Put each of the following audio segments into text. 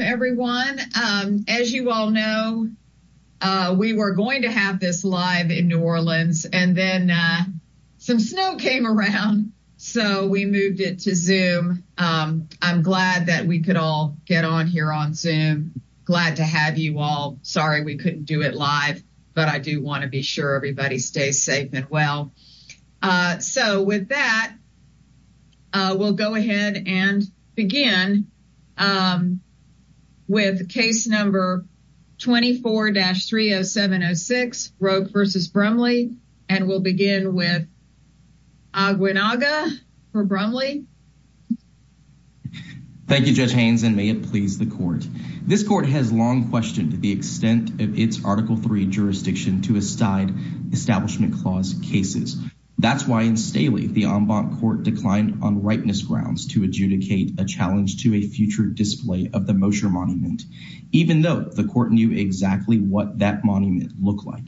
Everyone, as you all know, we were going to have this live in New Orleans and then some snow came around. So we moved it to zoom. I'm glad that we could all get on here on zoom. Glad to have you all sorry, we couldn't do it live. But I do want to be sure everybody stays safe and well. So with that, we'll go ahead and begin with case number 24-30706 Roake v. Brumley. And we'll begin with Aguinalda for Brumley. Thank you, Judge Haynes, and may it please the court. This court has long questioned the extent of its article three jurisdiction to a side establishment clause cases. That's why in Staley, the court declined on rightness grounds to adjudicate a challenge to a future display of the Mosher monument, even though the court knew exactly what that monument looked like.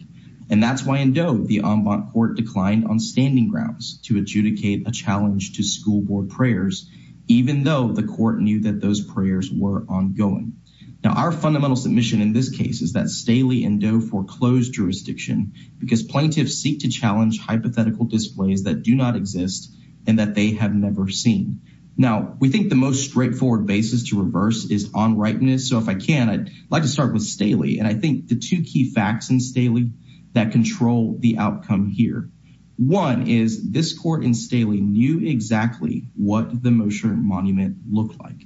And that's why in Doe, the ombud court declined on standing grounds to adjudicate a challenge to school board prayers, even though the court knew that those prayers were ongoing. Now our fundamental submission in this case is that Staley and Doe foreclosed jurisdiction because plaintiffs seek to challenge hypothetical displays that do not exist, and that they have never seen. Now, we think the most straightforward basis to reverse is on rightness. So if I can, I'd like to start with Staley. And I think the two key facts in Staley that control the outcome here. One is this court in Staley knew exactly what the Mosher monument looked like.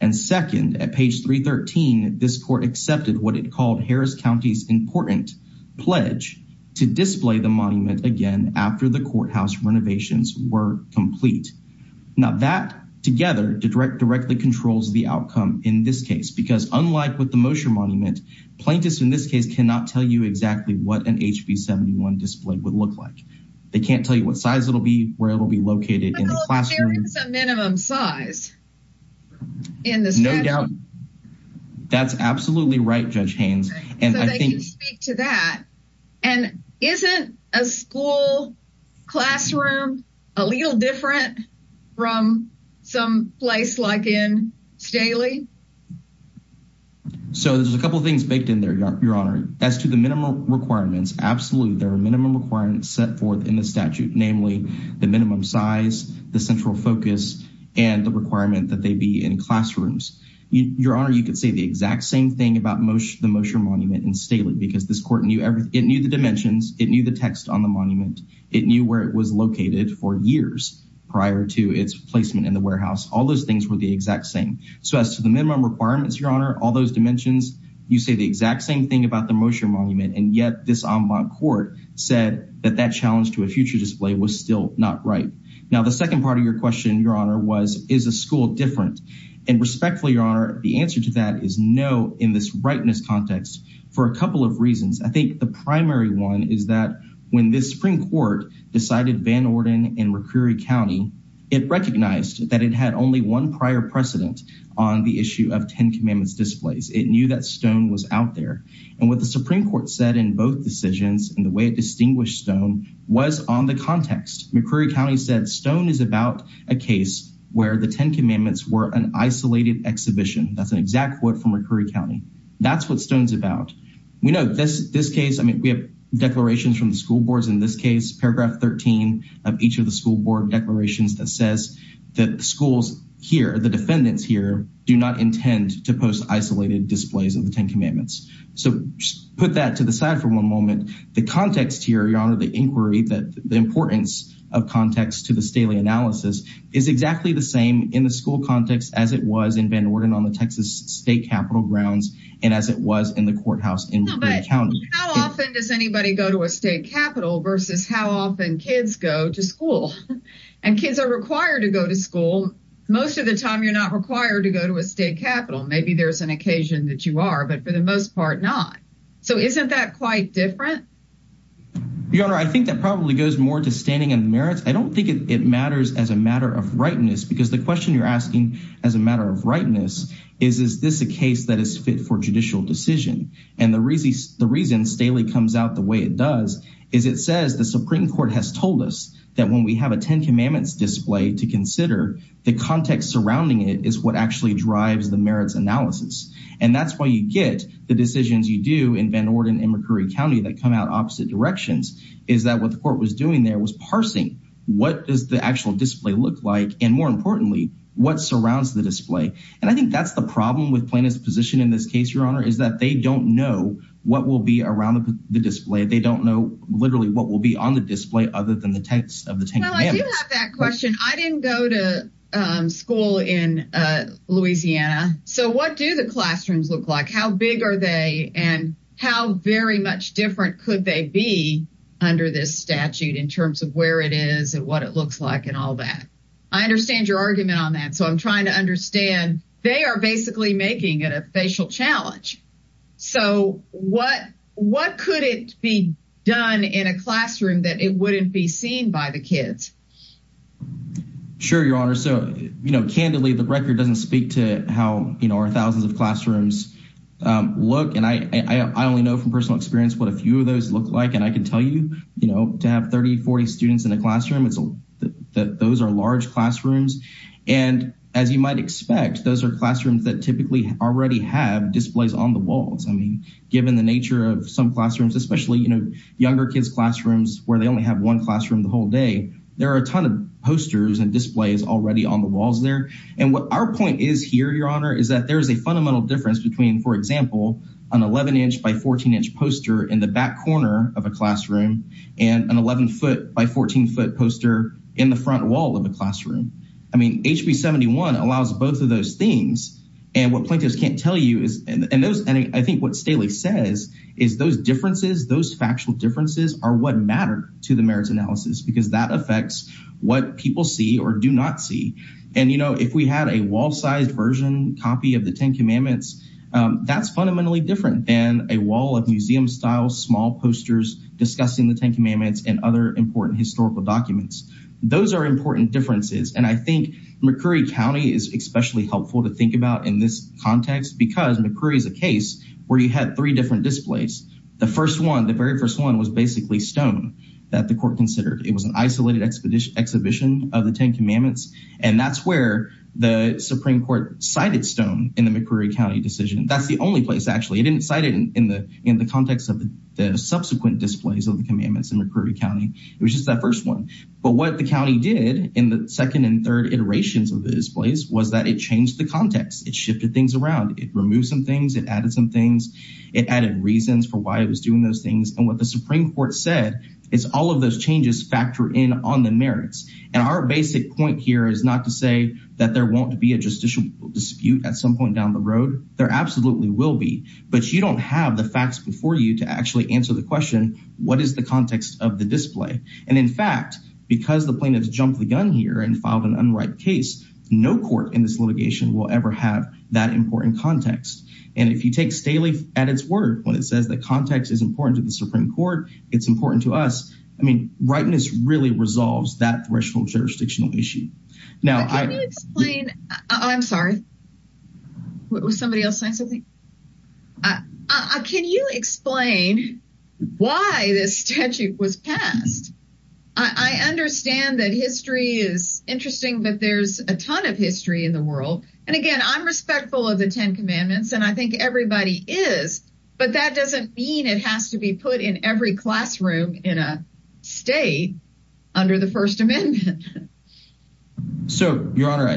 And second, at page 313, this court accepted what it called Harris County's important pledge to display the monument again, after the courthouse renovations were complete. Now that together to direct directly controls the outcome in this case, because unlike with the Mosher monument, plaintiffs in this case cannot tell you exactly what an HB 71 display would look like. They can't tell you what size it'll be where it will be located in the classroom. It's a minimum size. In this no doubt. That's absolutely right, Judge Haynes. So they can speak to that. And isn't a school classroom a little different from some place like in Staley? So there's a couple things baked in there, Your Honor. As to the minimum requirements, absolutely, there are minimum requirements set forth in the statute, namely, the minimum size, the central focus, and the requirement that they be in classrooms. Your Honor, you could say the exact same thing about the Mosher monument in Staley, because this court knew everything, it knew the dimensions, it knew the text on the monument, it knew where it was located for years prior to its placement in the warehouse, all those things were the exact same. So as to the minimum requirements, Your Honor, all those dimensions, you say the exact same thing about the Mosher monument. And yet this en banc court said that that challenge to a future display was still not right. Now, the second part of your question, Your Honor was, is a school different? And respectfully, Your Honor, the answer to that is no, in this rightness context, for a couple of reasons. I think the primary one is that when this Supreme Court decided Van Orden in McCreary County, it recognized that it had only one prior precedent on the issue of Ten Commandments displays, it knew that Stone was out there. And what the Supreme Court said in both decisions, and the way it distinguished Stone was on the context. McCreary County said Stone is about a case where the Ten Commandments were an isolated exhibition. That's an exact quote from McCreary County. That's what Stone's about. We know this this case, I mean, we have declarations from the school boards in this case, paragraph 13 of each of the school board declarations that says that schools here, the defendants here do not intend to post isolated displays of the Ten Commandments. So put that to the side for one moment, the context here, Your Honor, the inquiry that the importance of context to the Staley analysis is exactly the same in the school context as it was in Van Orden on the Texas State Capitol grounds, and as it was in the courthouse in McCreary County. How often does anybody go to a state capitol versus how often kids go to school? And kids are required to go to school. Most of the time, you're not required to go to a state capitol. Maybe there's an occasion that you are, but for the most part, not. So isn't that quite different? Your Honor, I think that probably goes more to standing and merits. I don't think it matters as a matter of rightness, because the question you're asking, as a matter of rightness, is, is this a case that is fit for judicial decision? And the reason Staley comes out the way it does, is it says the Supreme Court has told us that when we have a Ten Commandments display to consider, the context surrounding it is what actually drives the merits analysis. And that's why you get the decisions you do in Van Orden and McCreary County that come out opposite directions, is that what the Supreme Court was doing there was parsing, what does the actual display look like? And more importantly, what surrounds the display? And I think that's the problem with plaintiff's position in this case, Your Honor, is that they don't know what will be around the display. They don't know literally what will be on the display other than the text of the Ten Well, I do have that question. I didn't go to school in Louisiana. So what do the classrooms look like? How big are they? And how very much different could they be under this statute in terms of where it is and what it looks like and all that? I understand your argument on that. So I'm trying to understand, they are basically making it a facial challenge. So what could it be done in a classroom that it wouldn't be seen by the kids? Sure, Your Honor. So, you know, candidly, the record doesn't speak to how, you know, our thousands of classrooms look. And I only know from personal experience what a few of those look like. And I can tell you, you know, to have 30, 40 students in a classroom, it's that those are large classrooms. And as you might expect, those are classrooms that typically already have displays on the walls. I mean, given the nature of some classrooms, especially, you know, younger kids classrooms where they only have one classroom the whole day, there are a ton of posters and displays already on the walls there. And what our point is here, Your Honor, is that there is a fundamental difference between, for example, an 11 inch by 14 inch poster in the back corner of a classroom, and an 11 foot by 14 foot poster in the front wall of a classroom. I mean, HB 71 allows both of those things. And what plaintiffs can't tell you is, and those, I think what Staley says, is those differences, those factual differences are what matter to the merits analysis, because that affects what people see or do not see. And you know, if we had a wall sized version copy of the Ten Commandments, that's fundamentally different than a museum style, small posters, discussing the Ten Commandments and other important historical documents. Those are important differences. And I think McCreary County is especially helpful to think about in this context, because McCreary is a case where you had three different displays. The first one, the very first one was basically stone that the court considered it was an isolated expedition exhibition of the Ten Commandments. And that's where the Supreme Court cited stone in the McCreary County decision. That's the only place actually, it didn't cite it in the context of the subsequent displays of the commandments in McCreary County, it was just that first one. But what the county did in the second and third iterations of the displays was that it changed the context, it shifted things around, it removed some things, it added some things, it added reasons for why it was doing those things. And what the Supreme Court said, is all of those changes factor in on the merits. And our basic point here is not to say that there won't be a justiciable dispute at some point down the road, there absolutely will be. But you don't have the facts before you to actually answer the question, what is the context of the display? And in fact, because the plaintiffs jumped the gun here and filed an unright case, no court in this litigation will ever have that important context. And if you take Staley at its word, when it says the context is important to the Supreme Court, it's important to us. I mean, rightness really resolves that threshold jurisdictional issue. Now, I'm sorry. Was somebody else saying something? Can you explain why this statute was passed? I understand that history is interesting, but there's a ton of history in the world. And again, I'm respectful of the 10 Commandments. And I think everybody is. But that doesn't mean it has to be put in every classroom in a state under the First Amendment. So, Your Honor,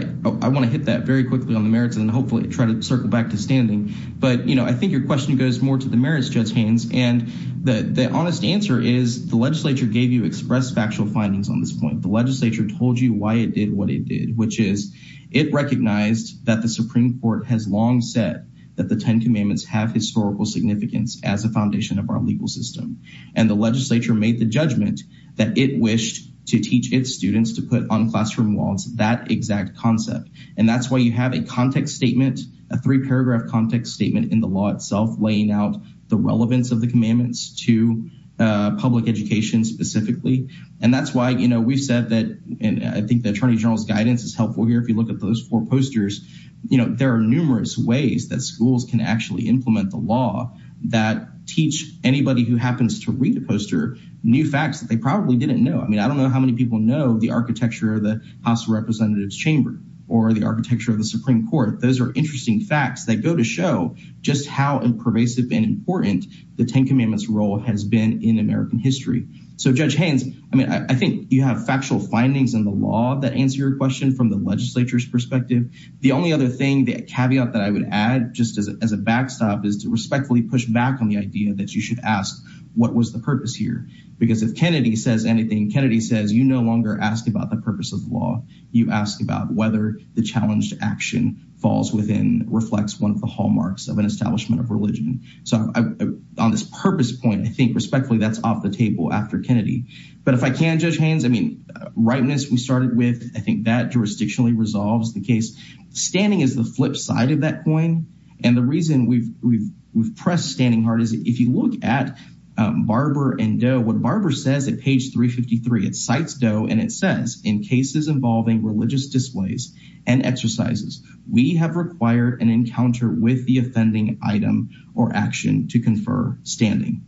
I want to hit that very quickly on the merits and hopefully try to circle back to standing. But you know, I think your question goes more to the merits, Judge Haynes. And the honest answer is the legislature gave you express factual findings on this point, the legislature told you why it did what it did, which is, it recognized that the Supreme Court has long said that the 10 Commandments have historical significance as a foundation of our legal system. And the legislature made the judgment that it wished to teach its students to put on classroom walls that exact concept. And that's why you have a context statement, a three paragraph context statement in the law itself laying out the relevance of the Commandments to public education specifically. And that's why, you know, we've said that, and I think the Attorney General's guidance is helpful here, if you look at those four posters, you know, there are numerous ways that schools can actually implement the law that teach anybody who happens to read the poster, new facts that they probably didn't know. I mean, I don't know how many people know the architecture of the House of Representatives chamber, or the architecture of the Supreme Court. Those are interesting facts that go to show just how pervasive and important the 10 Commandments role has been in American history. So Judge Haynes, I mean, I think you have factual findings in the law that answer your question from the legislature's perspective. The only other thing, the caveat that I would add just as a backstop is to respectfully push back on the idea that you should ask, what was the purpose here? Because if Kennedy says anything, Kennedy says, you no longer ask about the purpose of the law, you ask about whether the challenge to action falls within reflects one of the hallmarks of an establishment of religion. So on this purpose point, I think respectfully, that's off the table after Kennedy. But if I can, Judge Haynes, I mean, rightness we started with, I think that jurisdictionally resolves the case. Standing is the flip side of that coin. And the reason we've pressed standing hard is if you look at Barber and Doe, what Barber says at page 353, it cites Doe and it says, in cases involving religious displays, and exercises, we have required an encounter with the offending item or action to confer standing.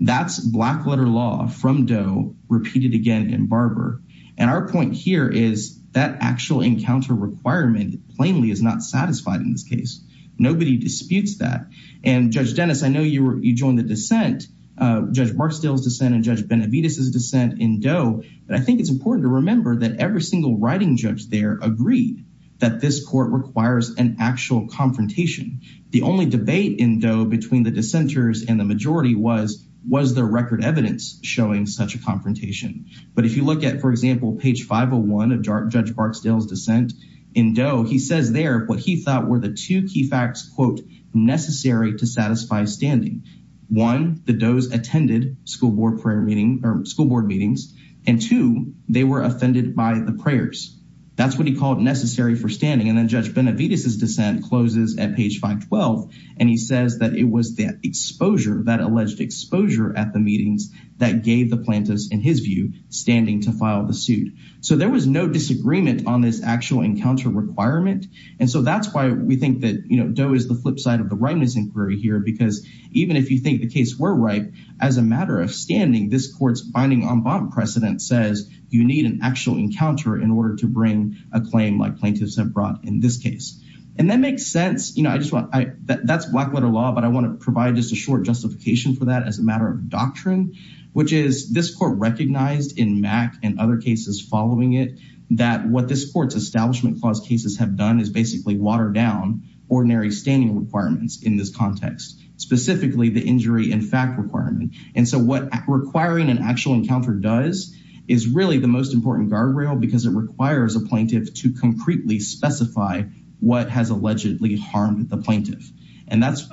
That's black letter law from Doe repeated again in Barber. And our point here is that actual encounter requirement plainly is not satisfied in this case. Nobody disputes that. And Judge Dennis, I know you joined the dissent, Judge Barksdale's dissent and Judge Benavides' dissent in Doe, but I think it's important to remember that every single writing judge there agreed that this court requires an actual confrontation. The only debate in Doe between the dissenters and the majority was, was there record evidence showing such a confrontation. But if you look at for example, page 501 of Judge Barksdale's dissent in Doe, he says there what he thought were the two key facts, quote, necessary to satisfy standing. One, the Doe's attended school board prayer meeting or school board meetings. And two, they were offended by the prayers. That's what he called necessary for standing. And then Judge Benavides' dissent closes at page 512. And he says that it was that exposure that alleged exposure at the meetings that gave the plaintiffs in his view, standing to file the suit. So there was no disagreement on this actual encounter requirement. And so that's why we think that, you know, Doe is the flip side of the rightness inquiry here. Because even if you think the case were right, as a matter of standing, this court's binding on bond precedent says you need an actual encounter in order to bring a claim like plaintiffs have brought in this case. And that makes sense. You know, I just want I that's black letter law, but I want to provide just a short justification for that as a matter of doctrine, which is this court recognized in Mack and other cases following it, that what this court's Establishment Clause cases have done is basically watered down ordinary standing requirements in this context, specifically the injury in fact requirement. And so what requiring an actual encounter does is really the most important guardrail because it requires a plaintiff to concretely specify what has allegedly harmed the plaintiff. And that's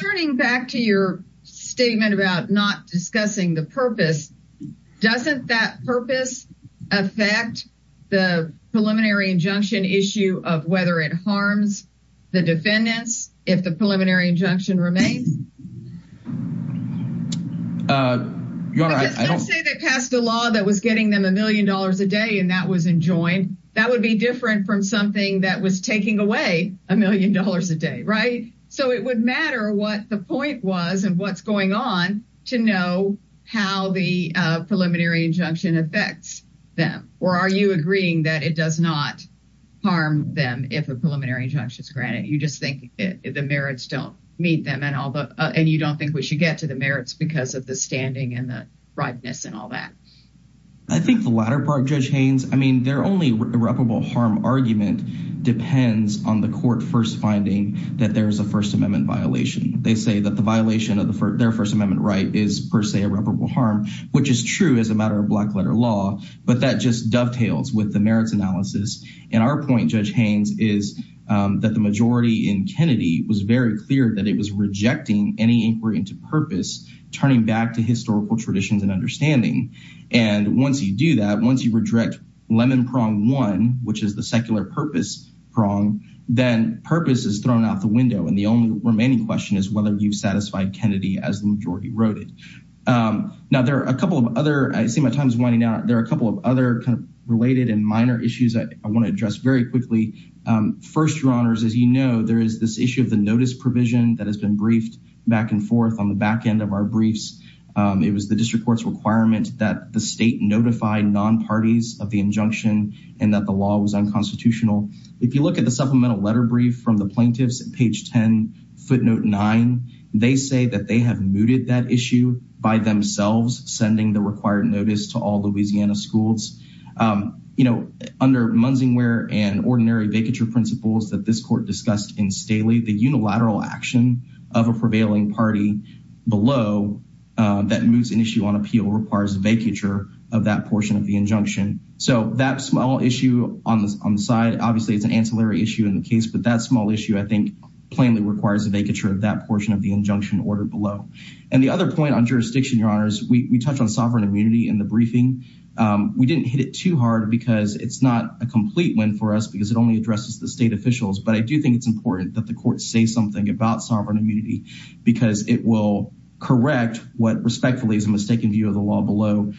turning back to your statement about not discussing the Doesn't that purpose affect the preliminary injunction issue of whether it harms the defendants if the preliminary injunction remains? They passed a law that was getting them $1 million a day and that was enjoined, that would be different from something that was taking away $1 million a day, right? So it would matter what the point was and what's going on to know how the preliminary injunction affects them? Or are you agreeing that it does not harm them? If a preliminary injunction is granted, you just think the merits don't meet them and all the and you don't think we should get to the merits because of the standing and the brightness and all that. I think the latter part, Judge Haynes, I mean, they're only irreparable harm argument depends on the court first finding that there's a First Amendment violation. They say that the violation of their First Amendment right is per irreparable harm, which is true as a matter of black letter law. But that just dovetails with the merits analysis. And our point, Judge Haynes, is that the majority in Kennedy was very clear that it was rejecting any inquiry into purpose, turning back to historical traditions and understanding. And once you do that, once you reject lemon prong one, which is the secular purpose prong, then purpose is thrown out the window. And the only remaining question is whether you've satisfied Kennedy as the majority wrote it. Now there are a couple of other I see my time is running out. There are a couple of other kind of related and minor issues that I want to address very quickly. First, Your Honors, as you know, there is this issue of the notice provision that has been briefed back and forth on the back end of our briefs. It was the district court's requirement that the state notify non parties of the injunction, and that the law was unconstitutional. If you look at the supplemental letter brief from the plaintiffs at page 10, footnote nine, they say that they have mooted that issue by themselves sending the required notice to all Louisiana schools. You know, under Munsingwear and ordinary vacature principles that this court discussed in Staley, the unilateral action of a prevailing party below that moves an issue on appeal requires vacature of that portion of the injunction. So that small issue on the side, obviously, it's an ancillary issue in the case, but that small issue, I think, plainly requires a vacature of that portion of the injunction order below. And the other point on jurisdiction, Your Honors, we touched on sovereign immunity in the briefing. We didn't hit it too hard because it's not a complete win for us because it only addresses the state officials. But I do think it's important that the court say something about sovereign immunity, because it will correct what respectfully is a mistaken view of the law below.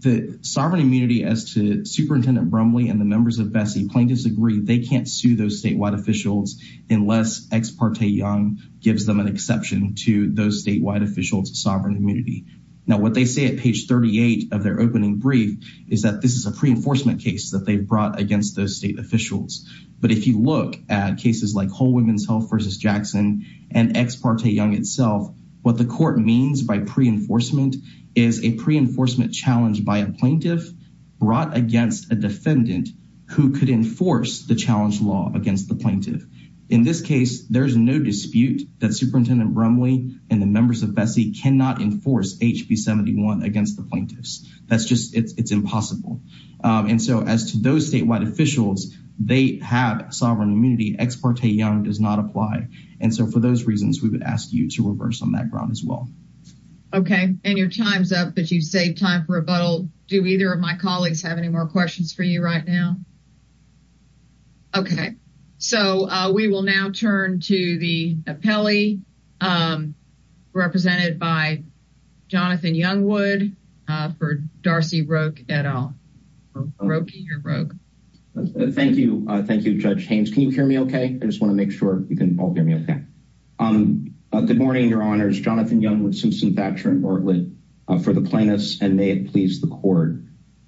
The sovereign immunity as to Superintendent Brumley and the members of Vesey plaintiffs agree they can't sue those statewide officials unless Ex parte Young gives them an exception to those statewide officials sovereign immunity. Now what they say at page 38 of their opening brief is that this is a pre enforcement case that they've brought against those state officials. But if you look at cases like Whole Women's Health versus Jackson, and Ex parte Young itself, what the court means by pre enforcement is a pre enforcement challenge by a plaintiff brought against a defendant who could enforce the challenge law against the plaintiff. In this case, there's no dispute that Superintendent Brumley and the members of Vesey cannot enforce HB 71 against the plaintiffs. That's just it's impossible. And so as to those statewide officials, they have sovereign immunity, Ex parte Young does not apply. And so for those reasons, we would ask you to reverse on that ground as well. Okay, and your time's up, but you've saved time for rebuttal. Do either of my colleagues have any more questions for you right now? Okay, so we will now turn to the appellee represented by Jonathan Youngwood for Darcy Roque et al. Roque, you're Roque. Thank you. Thank you, Judge Haynes. Can you hear me? Okay, I just want to make sure you can all hear me. Okay. Um, good morning, Your Honors Jonathan Youngwood, Susan Thatcher and Bartlett for the plaintiffs and may it please the court.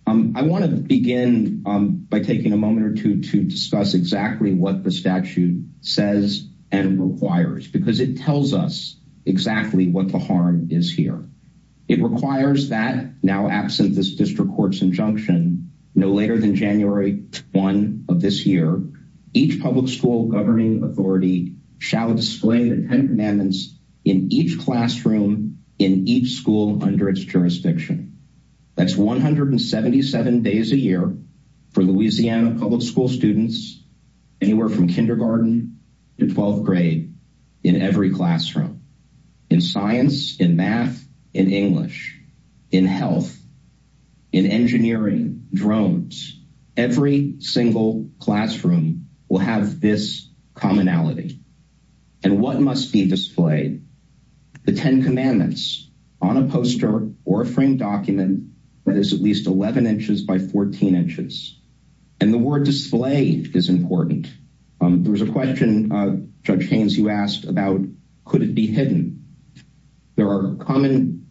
I want to begin by taking a moment or two to discuss exactly what the statute says and requires because it tells us exactly what the harm is here. It requires that now absent this district courts injunction, no later than January one of this year, each public school governing authority shall display the 10 commandments in each classroom in each school under its jurisdiction. That's 177 days a year for Louisiana public school students, anywhere from kindergarten to 12th grade, in every classroom, in science, in math, in English, in health, in engineering, drones, every single classroom will have this commonality. And what must be displayed the 10 commandments on a poster or a framed document that is at least 11 inches by 14 inches. And the word display is important. There was a question, Judge Haynes, you asked about, could it be hidden? There are common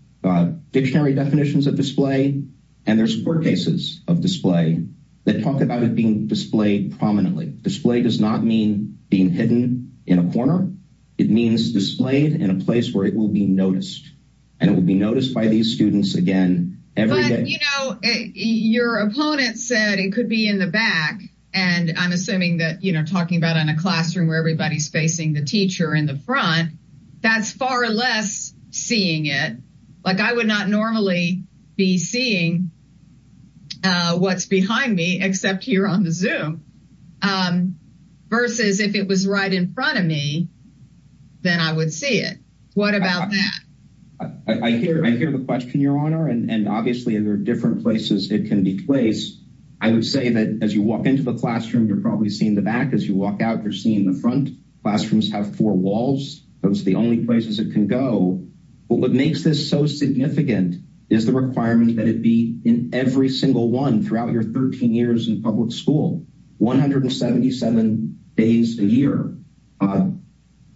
dictionary definitions of display. And there's court cases of display that talk about it being displayed prominently display does not mean being hidden in a corner. It means displayed in a place where it will be noticed. And it will be noticed by these students again, every day, you know, your opponent said it could be in the back. And I'm assuming that you know, talking about in a classroom where everybody's facing the teacher in the front, that's far less seeing it. Like I would not normally be seeing what's behind me except here on the zoom. Versus if it was right in front of me, then I would see it. What about that? I hear I hear the question, Your Honor. And obviously, there are different places it can be placed. I would say that as you walk into the classroom, you're probably seeing the back as you walk out, you're seeing the front classrooms have four walls, that's the only places it can go. But what makes this so significant is the requirement that it be in every single one throughout your 13 years in public school, 177 days a year. But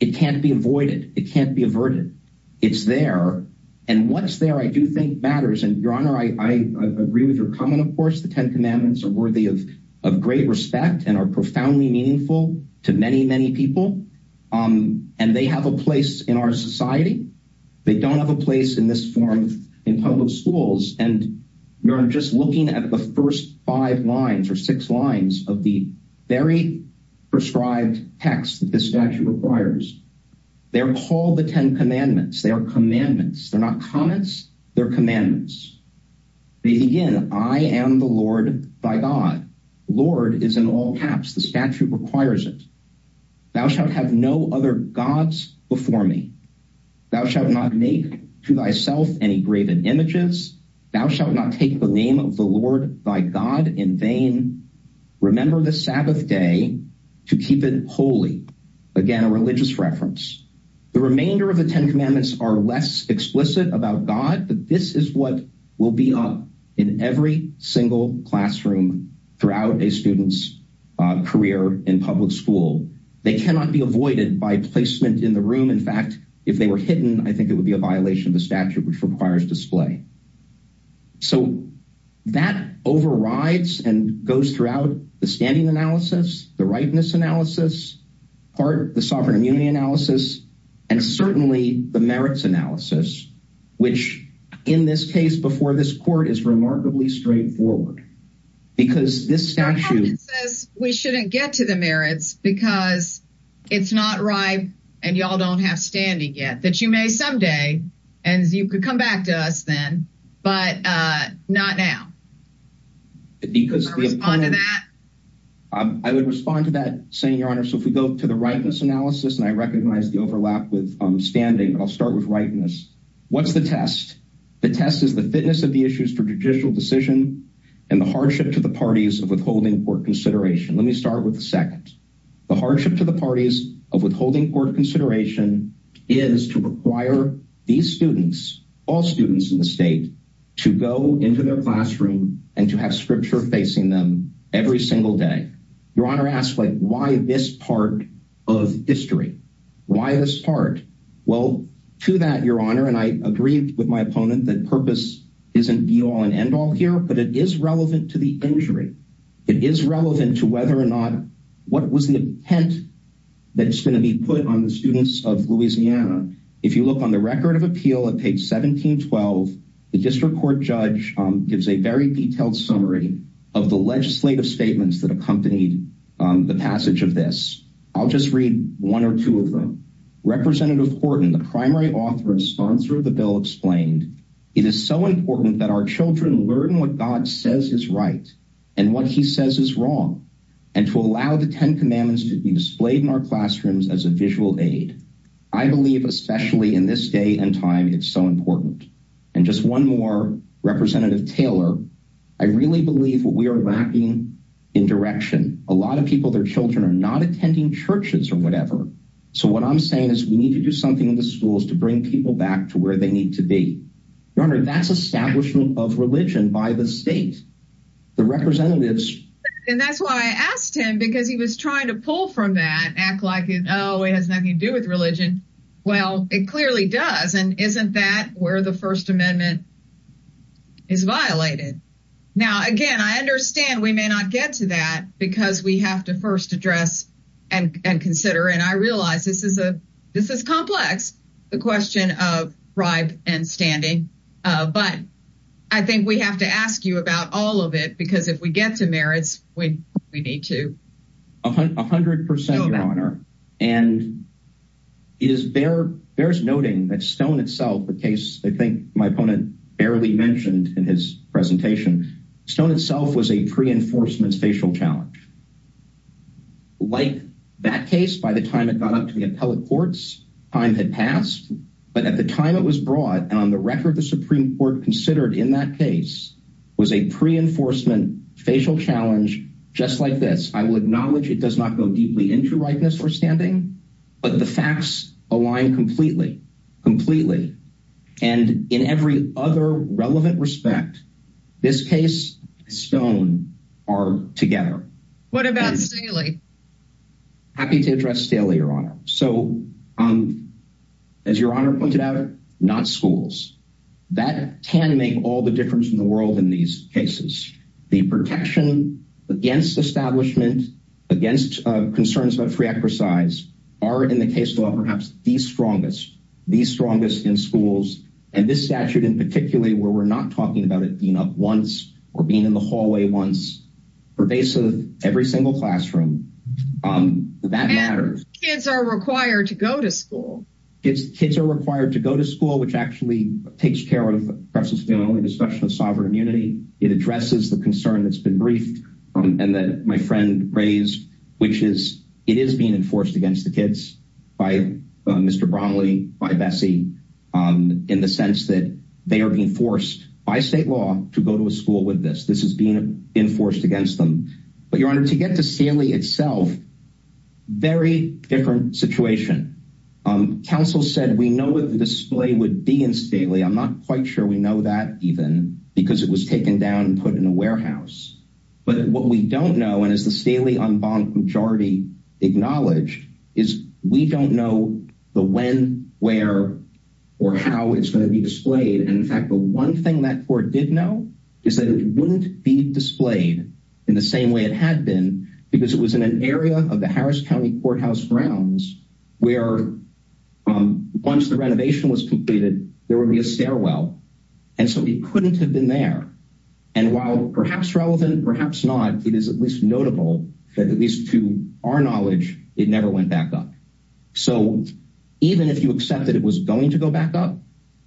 it can't be avoided, it can't be averted. It's there. And what's there I do think matters. And Your Honor, I agree with your comment, of course, the 10 commandments are worthy of, of great respect and are profoundly meaningful to many, many people. And they have a place in our society. They don't have a place in this form in public schools. And you're just looking at the first five lines or six lines of the very prescribed text that this statute requires. They're called the 10 commandments, they are commandments, they're not comments, they're commandments. They begin, I am the Lord by God, Lord is in all caps, the statute requires it. Thou shalt have no other gods before me. Thou shalt not make to thyself any graven images. Thou shalt not take the name of the Lord by God in vain. Remember the Sabbath day to keep it holy. Again, a religious reference. The remainder of the 10 commandments are less explicit about God. But this is what will be up in every single classroom throughout a student's career in public school. They cannot be avoided by placement in the room. In fact, if they were hidden, I think it would be a statute which requires display. So that overrides and goes throughout the standing analysis, the rightness analysis, part the sovereign immunity analysis, and certainly the merits analysis, which, in this case before this court is remarkably straightforward. Because this statute says we shouldn't get to the merits because it's not right. And y'all don't have standing yet that you may someday and you could come back to us then. But not now. Because I would respond to that saying your honor. So if we go to the rightness analysis, and I recognize the overlap with standing, I'll start with rightness. What's the test? The test is the fitness of the issues for judicial decision, and the hardship to the parties of withholding court consideration. Let me start with the second, the hardship to the parties of withholding court consideration is to require these students, all students in the state to go into their classroom and to have scripture facing them every single day. Your honor asked like why this part of history? Why this part? Well, to that your honor, and I agreed with my opponent that purpose isn't the all and end all here, but it is relevant to the injury. It is relevant to whether or not what was the intent that's going to be put on the students of Louisiana. If you look on the record of appeal at page 1712, the district court judge gives a very detailed summary of the legislative statements that accompanied the passage of this. I'll just read one or two of them. Representative Horton, the primary author and sponsor of the bill explained, it is so important that our children learn what God says is right, and what he says is wrong. And to allow the 10 commandments to be displayed in our classrooms as a visual aid. I believe, especially in this day and time, it's so important. And just one more representative Taylor, I really believe what we are lacking in direction, a lot of people, their children are not attending churches or whatever. So what I'm saying is we need to do something in the schools to bring people back to where they need to be. Your honor, that's establishment of religion by the representatives. And that's why I asked him because he was trying to pull from that act like it always has nothing to do with religion. Well, it clearly does. And isn't that where the First Amendment is violated? Now, again, I understand we may not get to that because we have to first address and consider and I realize this is a this is complex, the question of bribe and standing. But I think we have to ask you about all of it because if we get to merits when we need to 100% honor, and is there there's noting that stone itself the case, I think my opponent barely mentioned in his presentation, stone itself was a pre enforcement facial challenge. Like that case, by the time it got up to the appellate courts, time had passed. But at the time it was brought on the record, the Supreme Court considered in that case was a pre enforcement facial challenge, just like this, I will acknowledge it does not go deeply into rightness or standing. But the facts align completely, completely. And in every other relevant respect, this case, stone are together. What about Sally? Happy to address daily, Your Honor. So, um, as Your Honor pointed out, not schools, that can make all the difference in the world. In these cases, the protection against establishment against concerns about free exercise are in the case law, perhaps the strongest, the strongest in schools, and this statute in particularly where we're not talking about it being up once or being in the hallway once pervasive, every single classroom. That matters. Kids are required to go to school. It's kids are required to go to school, which actually takes care of the only discussion of sovereign immunity. It addresses the concern that's been briefed, and that my friend raised, which is it is being enforced against the kids by Mr. Bromley by Bessie, in the sense that they are being forced by state law to go to a school with this, this is being enforced against them. But Your Honor, to get to Sally itself, very different situation. Council said we know what the display would be in Stanley, I'm not quite sure we know that even because it was taken down and put in a warehouse. But what we don't know, and as the Stanley unbond majority acknowledged, is we don't know the when, where, or how it's going to be displayed. And in fact, the one thing that court did know, is that it wouldn't be displayed in the same way it had been, because it was in an area of the Harris County Courthouse grounds, where once the renovation was completed, there will be a stairwell. And so we couldn't have been there. And while perhaps relevant, perhaps not, it is at least notable that at least to our knowledge, it never went back up. So even if you accept that it was going to go back up,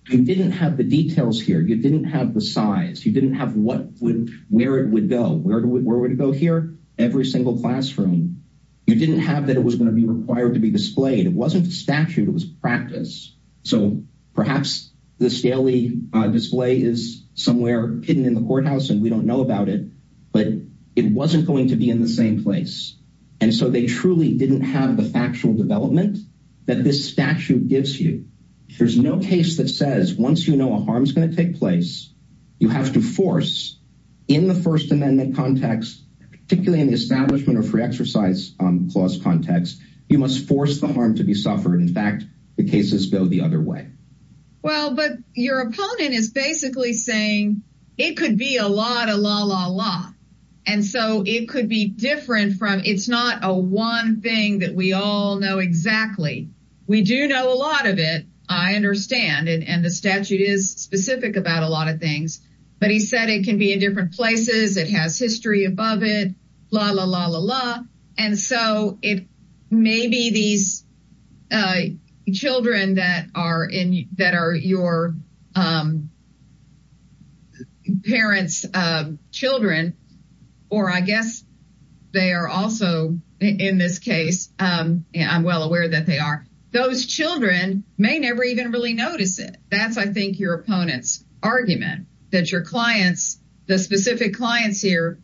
you didn't have the details here, you didn't have the size, you didn't have what would where it would go, where would where would it go here, every single classroom, you didn't have that it was going to be required to be displayed, it wasn't statute, it was practice. So perhaps the Stanley display is somewhere hidden in the courthouse, and we don't know about it. But it wasn't going to be in the same place. And so they truly didn't have the factual development that this statute gives you. There's no case that says once you know a harm is going to take place, you have to force in the First Amendment context, particularly in the establishment of free exercise clause context, you must force the harm to be suffered. In fact, the cases go the other way. Well, but your opponent is basically saying, it could be a lot of la la la. And so it could be different from it's not a one thing that we all know exactly. We do know a lot of it. I understand it. And the statute is specific about a lot of things. But he said it can be in different places, it has history above it, la la la la la. And so it may be these children that are in that are your parents, children, or I guess, they are also in this case, I'm well aware that they are, those children may never even really notice it. That's I think your opponent's argument that your clients, the specific clients here,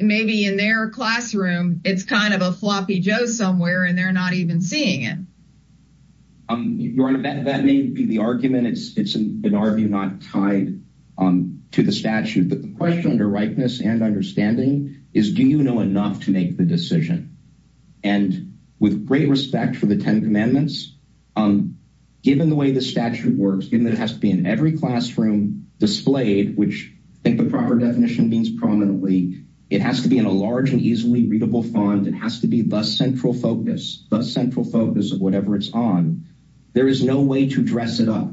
maybe in their classroom, it's kind of a floppy joe somewhere, and they're not even seeing it. Um, Your Honor, that may be the argument. It's an argument not tied on to the statute. But the question under rightness and understanding is, do you know enough to make the decision? And with great respect for the 10 Commandments, um, given the way the statute works, given that it has to be in every classroom displayed, which I think the proper definition means prominently, it has to be in a large and easily readable font, it has to be the central focus, the central focus of whatever it's on, there is no way to dress it up.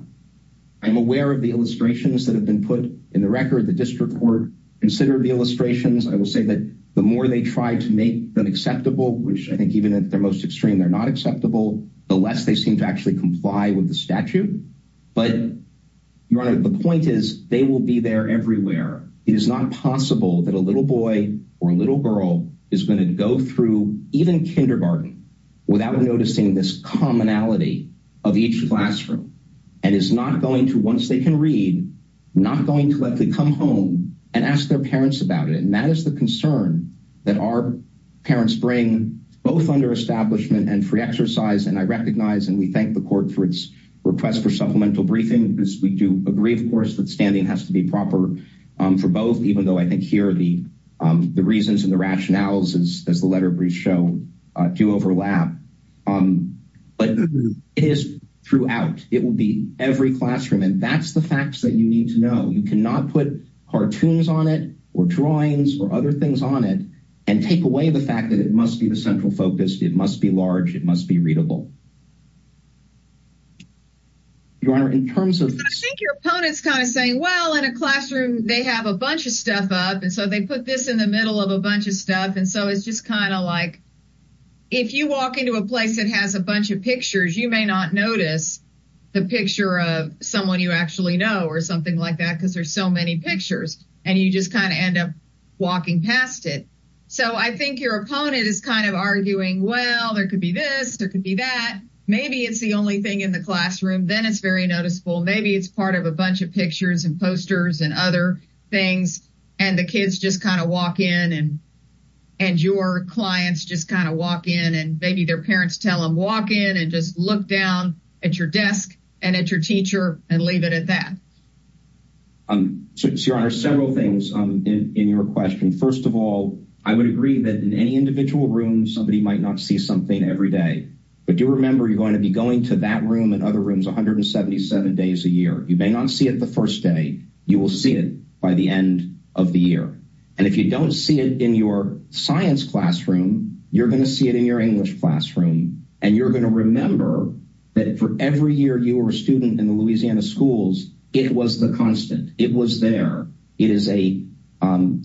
I'm aware of the illustrations that have been put in the record, the district court, consider the illustrations, I will say that the more they try to make them acceptable, which I think even at their most extreme, they're not acceptable, the less they seem to actually comply with the statute. But Your Honor, the point is, they will be there everywhere. It is not possible that a little boy or little girl is going to go through even kindergarten, without noticing this commonality of each classroom, and is not going to once they can read, not going to let them come home and ask their parents about it. And that is the concern that our parents bring, both under establishment and free exercise. And I recognize and we thank the court for its request for supplemental briefing, because we do agree, of course, that standing has to be proper for both, even though I think here the reasons and the rationales, as the letter brief show, do overlap. But it is throughout, it will be every classroom. And that's the facts that you need to know, you cannot put cartoons on it, or drawings or other things on it, and take away the fact that it must be the central focus, it must be large, it must be readable. Your Honor, in terms of your opponents kind of saying, well, in a classroom, they have a bunch of stuff up. And so they put this in the middle of a bunch of stuff. And so it's just kind of like, if you walk into a place that has a bunch of pictures, you may not notice the picture of someone you actually know, or something like that, because there's so many pictures, and you just kind of end up walking past it. So I think your opponent is kind of arguing, well, there could be this, there could be that, maybe it's the only thing in the classroom, then it's very noticeable, maybe it's part of a bunch of pictures and posters and other things. And the kids just kind of walk in and, and your clients just kind of walk in and maybe their parents tell them walk in and just look down at your desk, and at your teacher and leave it at that. So Your Honor, several things in your question. First of all, I would agree that in any individual room, somebody might not see something every day. But do remember, you're going to be going to that room and other rooms 177 days a year, you may not see it the first day, you will see it by the end of the year. And if you don't see it in your science classroom, you're going to see it in your English classroom. And you're going to remember that for every year you were a student in the Louisiana schools, it was the constant it was there. It is a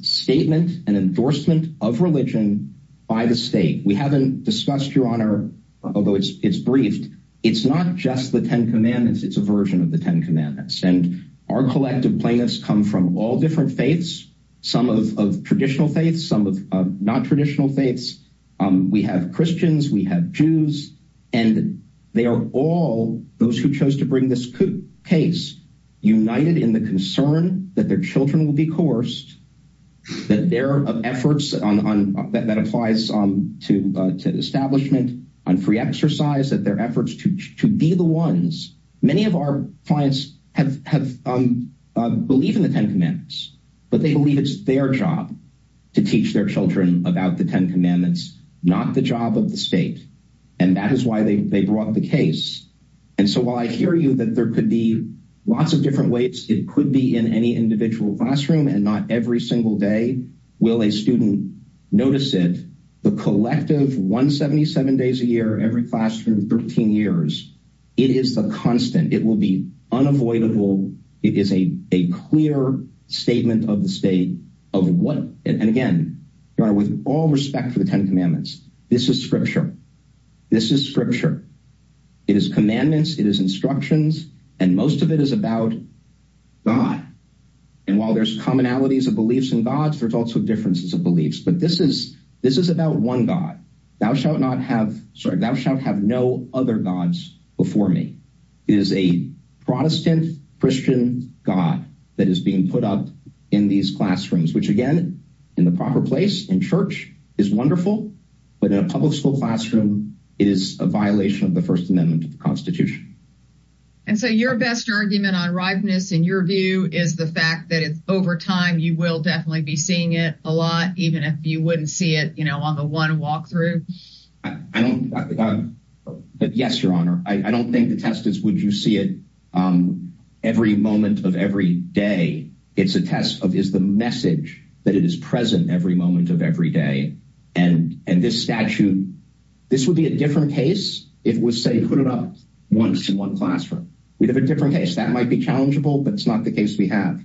statement and endorsement of religion by the state. We haven't discussed Your Honor, although it's it's briefed. It's not just the 10 Commandments. It's a version of the 10 Commandments and our collective plaintiffs come from all different faiths, some of traditional faiths, some of non traditional faiths. We have Christians, we have Jews, and they are all those who chose to bring this case, united in the concern that their children will be coerced, that their efforts on that applies to to establishment on free exercise that their efforts to be the ones many of our clients have have believe in the 10 Commandments, but they believe it's their job to teach their children about the 10 Commandments, not the job of the state. And that is why they brought the case. And so while I hear you that there could be lots of different ways, it could be in any individual classroom and not every single day, will a student notice it, the collective 177 days a year, every classroom 13 years, it is the constant, it will be unavoidable. It is a clear statement of the state of what and again, Your Honor, with all respect for the 10 Commandments, this is scripture. This is scripture. It is commandments, it is about God. And while there's commonalities of beliefs and gods, there's also differences of beliefs. But this is this is about one God, thou shalt not have sorry, thou shalt have no other gods before me, is a Protestant Christian God that is being put up in these classrooms, which again, in the proper place in church is wonderful. But in a public school classroom, is a violation of the First Amendment of the unriveness, in your view, is the fact that it's over time, you will definitely be seeing it a lot, even if you wouldn't see it, you know, on the one walkthrough. I don't. But yes, Your Honor, I don't think the test is would you see it? Every moment of every day, it's a test of is the message that it is present every moment of every day. And, and this statute, this would be a different case, if we say put it up once in one classroom, we'd have a different case, that might be challengeable, but it's not the case we have.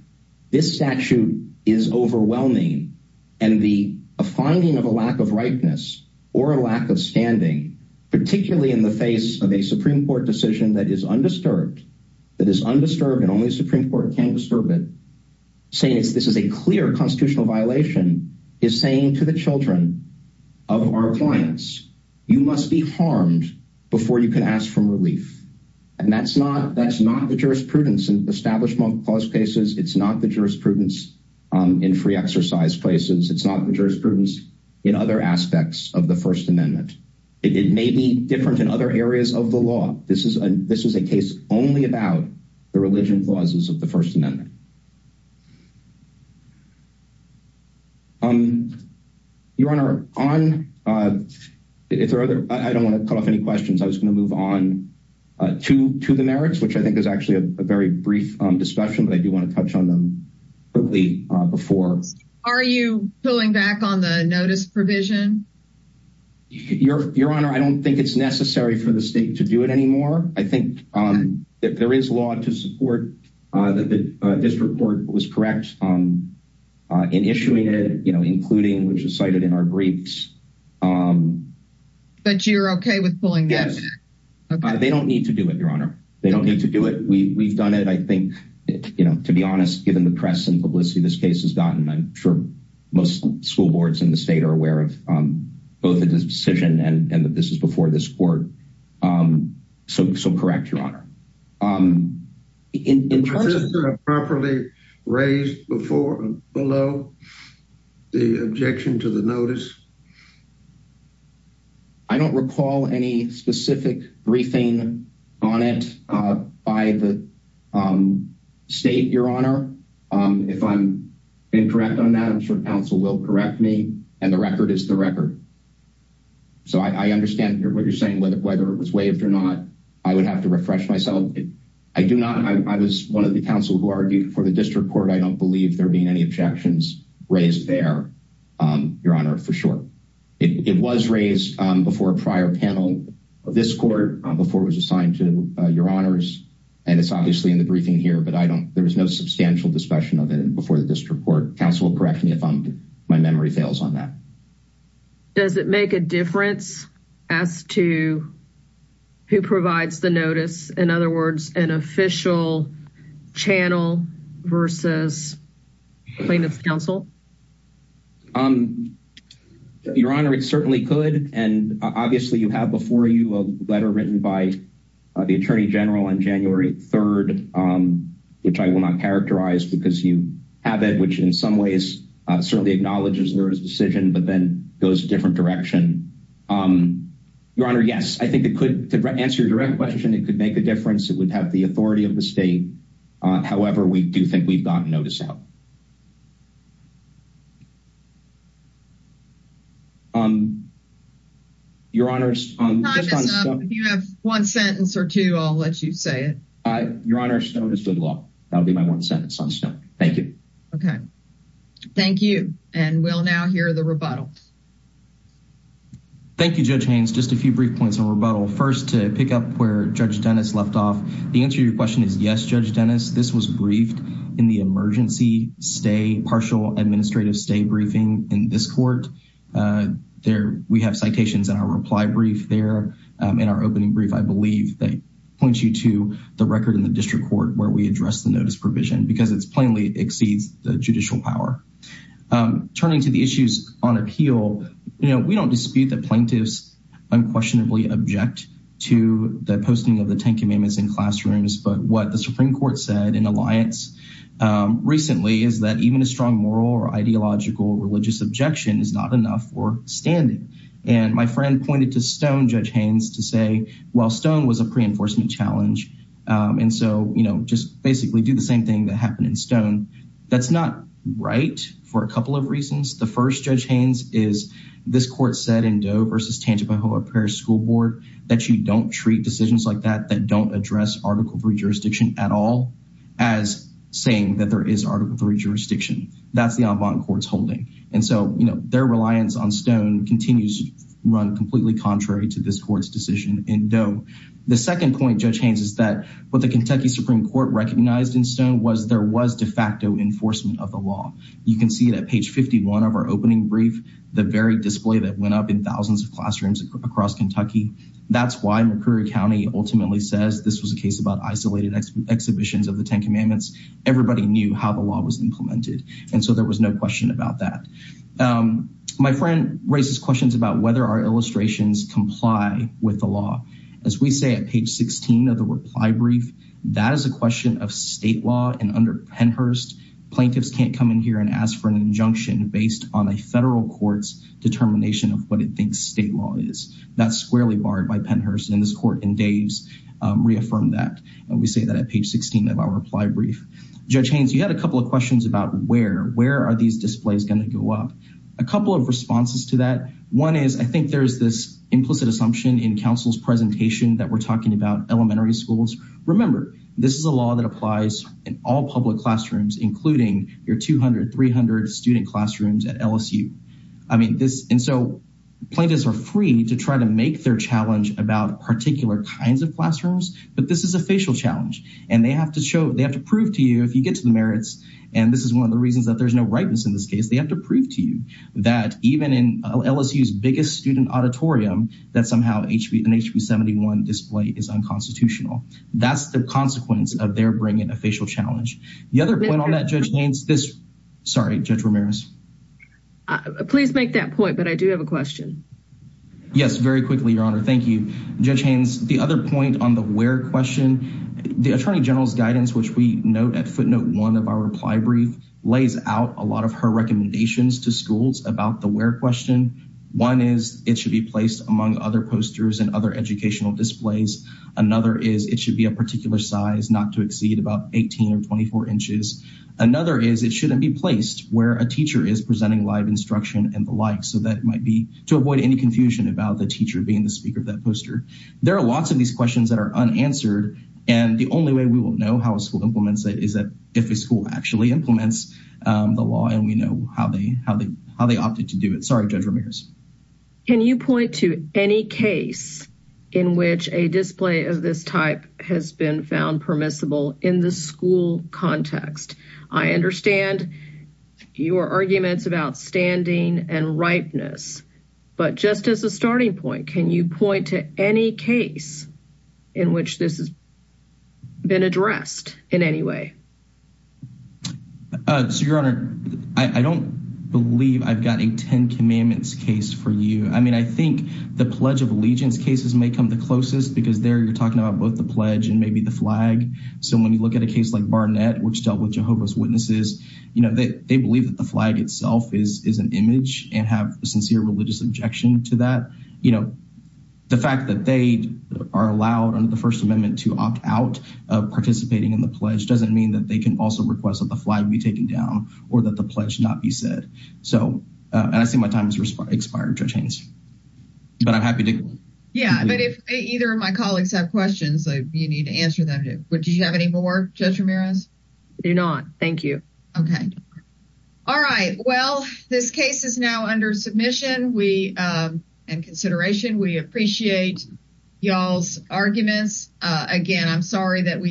This statute is overwhelming. And the finding of a lack of ripeness, or a lack of standing, particularly in the face of a Supreme Court decision that is undisturbed, that is undisturbed, and only Supreme Court can disturb it. saying is this is a clear constitutional violation is saying to the children of our clients, you must be harmed before you can ask for relief. And that's not that's not the jurisprudence and establishment clause cases. It's not the jurisprudence in free exercise places. It's not the jurisprudence in other aspects of the First Amendment. It may be different in other areas of the law. This is a this is a case only about the religion clauses of the First Amendment. Um, Your Honor on if there are other I don't want to cut off any questions, I was going to move on to to the merits, which I think there's actually a very brief discussion, but I do want to touch on them early before. Are you pulling back on the notice provision? Your Your Honor, I don't think it's necessary for the state to do it anymore. I think that there is law to support that the district court was correct on in issuing it, you know, including which is cited in our briefs. But you're okay with pulling? Yes. They don't need to do it, Your Honor. They don't need to do it. We've done it. I think, you know, to be honest, given the press and publicity this case has gotten, I'm sure most school boards in the state are aware of both of this decision and that this is before this court. So so correct, Your In terms of properly raised before and below the objection to the notice. I don't recall any specific briefing on it by the state, Your Honor. If I'm incorrect on that, I'm sure counsel will correct me. And the record is the record. So I understand what you're saying, whether it was waived or not, I would have to refresh myself. I do not. I was one of the counsel who argued for the district court. I don't believe there being any objections raised there. Your Honor, for sure. It was raised before a prior panel of this court before it was assigned to Your Honors. And it's obviously in the briefing here, but I don't there was no substantial discussion of it before the district court. Counsel will correct me if my memory fails on that. Does it make a difference as to who provides the notice? In other words, an official channel versus plaintiff's counsel? Your Honor, it certainly could. And obviously you have before you a letter written by the Attorney General on January 3rd, which I will not characterize because you have it, which in some ways, certainly acknowledges there is a decision, but then goes different direction. Your Honor, yes, I think it could answer your direct question. It could make a difference. It would have the authority of the state. However, we do think we've gotten notice out. Your Honor, if you have one sentence or two, I'll let you say it. Your Honor, Stone is good law. That'll be my one sentence on Stone. Thank you. Okay. Thank you. And we'll now hear the rebuttal. Thank you, Judge Haynes. Just a few brief points on rebuttal. First, to pick up where Judge Dennis left off. The answer to your question is yes, Judge Dennis, this was briefed in the emergency stay partial admission. It was briefed in the administrative stay briefing in this court. We have citations in our reply brief there. In our opening brief, I believe they point you to the record in the district court where we address the notice provision because it plainly exceeds the judicial power. Turning to the issues on appeal, we don't dispute that plaintiffs unquestionably object to the posting of the 10 commandments in classrooms. But what the Supreme Court said in recently is that even a strong moral or ideological religious objection is not enough for standing. And my friend pointed to Stone, Judge Haynes, to say, well, Stone was a pre-enforcement challenge. And so, you know, just basically do the same thing that happened in Stone. That's not right for a couple of reasons. The first, Judge Haynes, is this court said in Doe versus Tangipahoa Parish School Board, that you don't treat decisions like that that don't address Article III jurisdiction at all, as saying that there is Article III jurisdiction. That's the en banc court's holding. And so, you know, their reliance on Stone continues to run completely contrary to this court's decision in Doe. The second point, Judge Haynes, is that what the Kentucky Supreme Court recognized in Stone was there was de facto enforcement of the law. You can see that page 51 of our opening brief, the very display that went up in thousands of classrooms across Kentucky. That's why McCreary County ultimately says this was a case about isolated exhibitions of the Ten Commandments. Everybody knew how the law was implemented. And so there was no question about that. My friend raises questions about whether our illustrations comply with the law. As we say at page 16 of the reply brief, that is a question of state law and under Pennhurst, plaintiffs can't come in here and ask for an injunction based on a federal court's determination of what it thinks state law is. That's squarely barred by Pennhurst. And this court in Dave's reaffirmed that. And we say that at page 16 of our reply brief. Judge Haynes, you had a couple of questions about where, where are these displays going to go up? A couple of responses to that. One is I think there's this implicit assumption in counsel's presentation that we're talking about elementary schools. Remember, this is a law that applies in all public classrooms, including your 200, 300 student classrooms at LSU. I mean, this and so plaintiffs are free to try to make their challenge about particular kinds of classrooms, but this is a facial challenge and they have to show, they have to prove to you, if you get to the merits, and this is one of the reasons that there's no rightness in this case, they have to prove to you that even in LSU's biggest student auditorium, that somehow an HB71 display is unconstitutional. That's the consequence of their bringing a facial challenge. The other point on that, Judge Haynes, this, sorry, Judge Ramirez. Please make that point. But I do have a question. Yes, very quickly, Your Honor. Thank you, Judge Haynes. The other point on the where question, the Attorney General's guidance, which we note at footnote one of our reply brief lays out a lot of her recommendations to schools about the where question. One is it should be placed among other posters and other educational displays. Another is it should be a particular size not to exceed about 18 or 24 inches. Another is it shouldn't be placed where a teacher is presenting live instruction and the like. So that might be to avoid any confusion about the teacher being the speaker of that poster. There are lots of these questions that are unanswered. And the only way we will know how a school implements it is that if a school actually implements the law and we know how they opted to do it. Sorry, Judge Ramirez. Can you point to any case in which a display of this type has been found permissible in the school context? I understand your arguments about standing and ripeness. But just as a starting point, can you point to any case in which this has been addressed in any way? So Your Honor, I don't believe I've got a Ten Commandments case for you. I mean, I think the Pledge of Allegiance cases may come the closest because there you're talking about both the pledge and maybe the flag. So when you look at a case like which dealt with Jehovah's Witnesses, you know, they believe that the flag itself is an image and have a sincere religious objection to that. You know, the fact that they are allowed under the First Amendment to opt out of participating in the pledge doesn't mean that they can also request that the flag be taken down, or that the pledge not be said. So, and I see my time has expired, Judge Haynes. But I'm happy to... Yeah, but if either of my colleagues have questions, you need to answer them. Would you have any more, Judge Ramirez? Do not. Thank you. Okay. All right. Well, this case is now under submission. In consideration, we appreciate y'all's arguments. Again, I'm sorry that we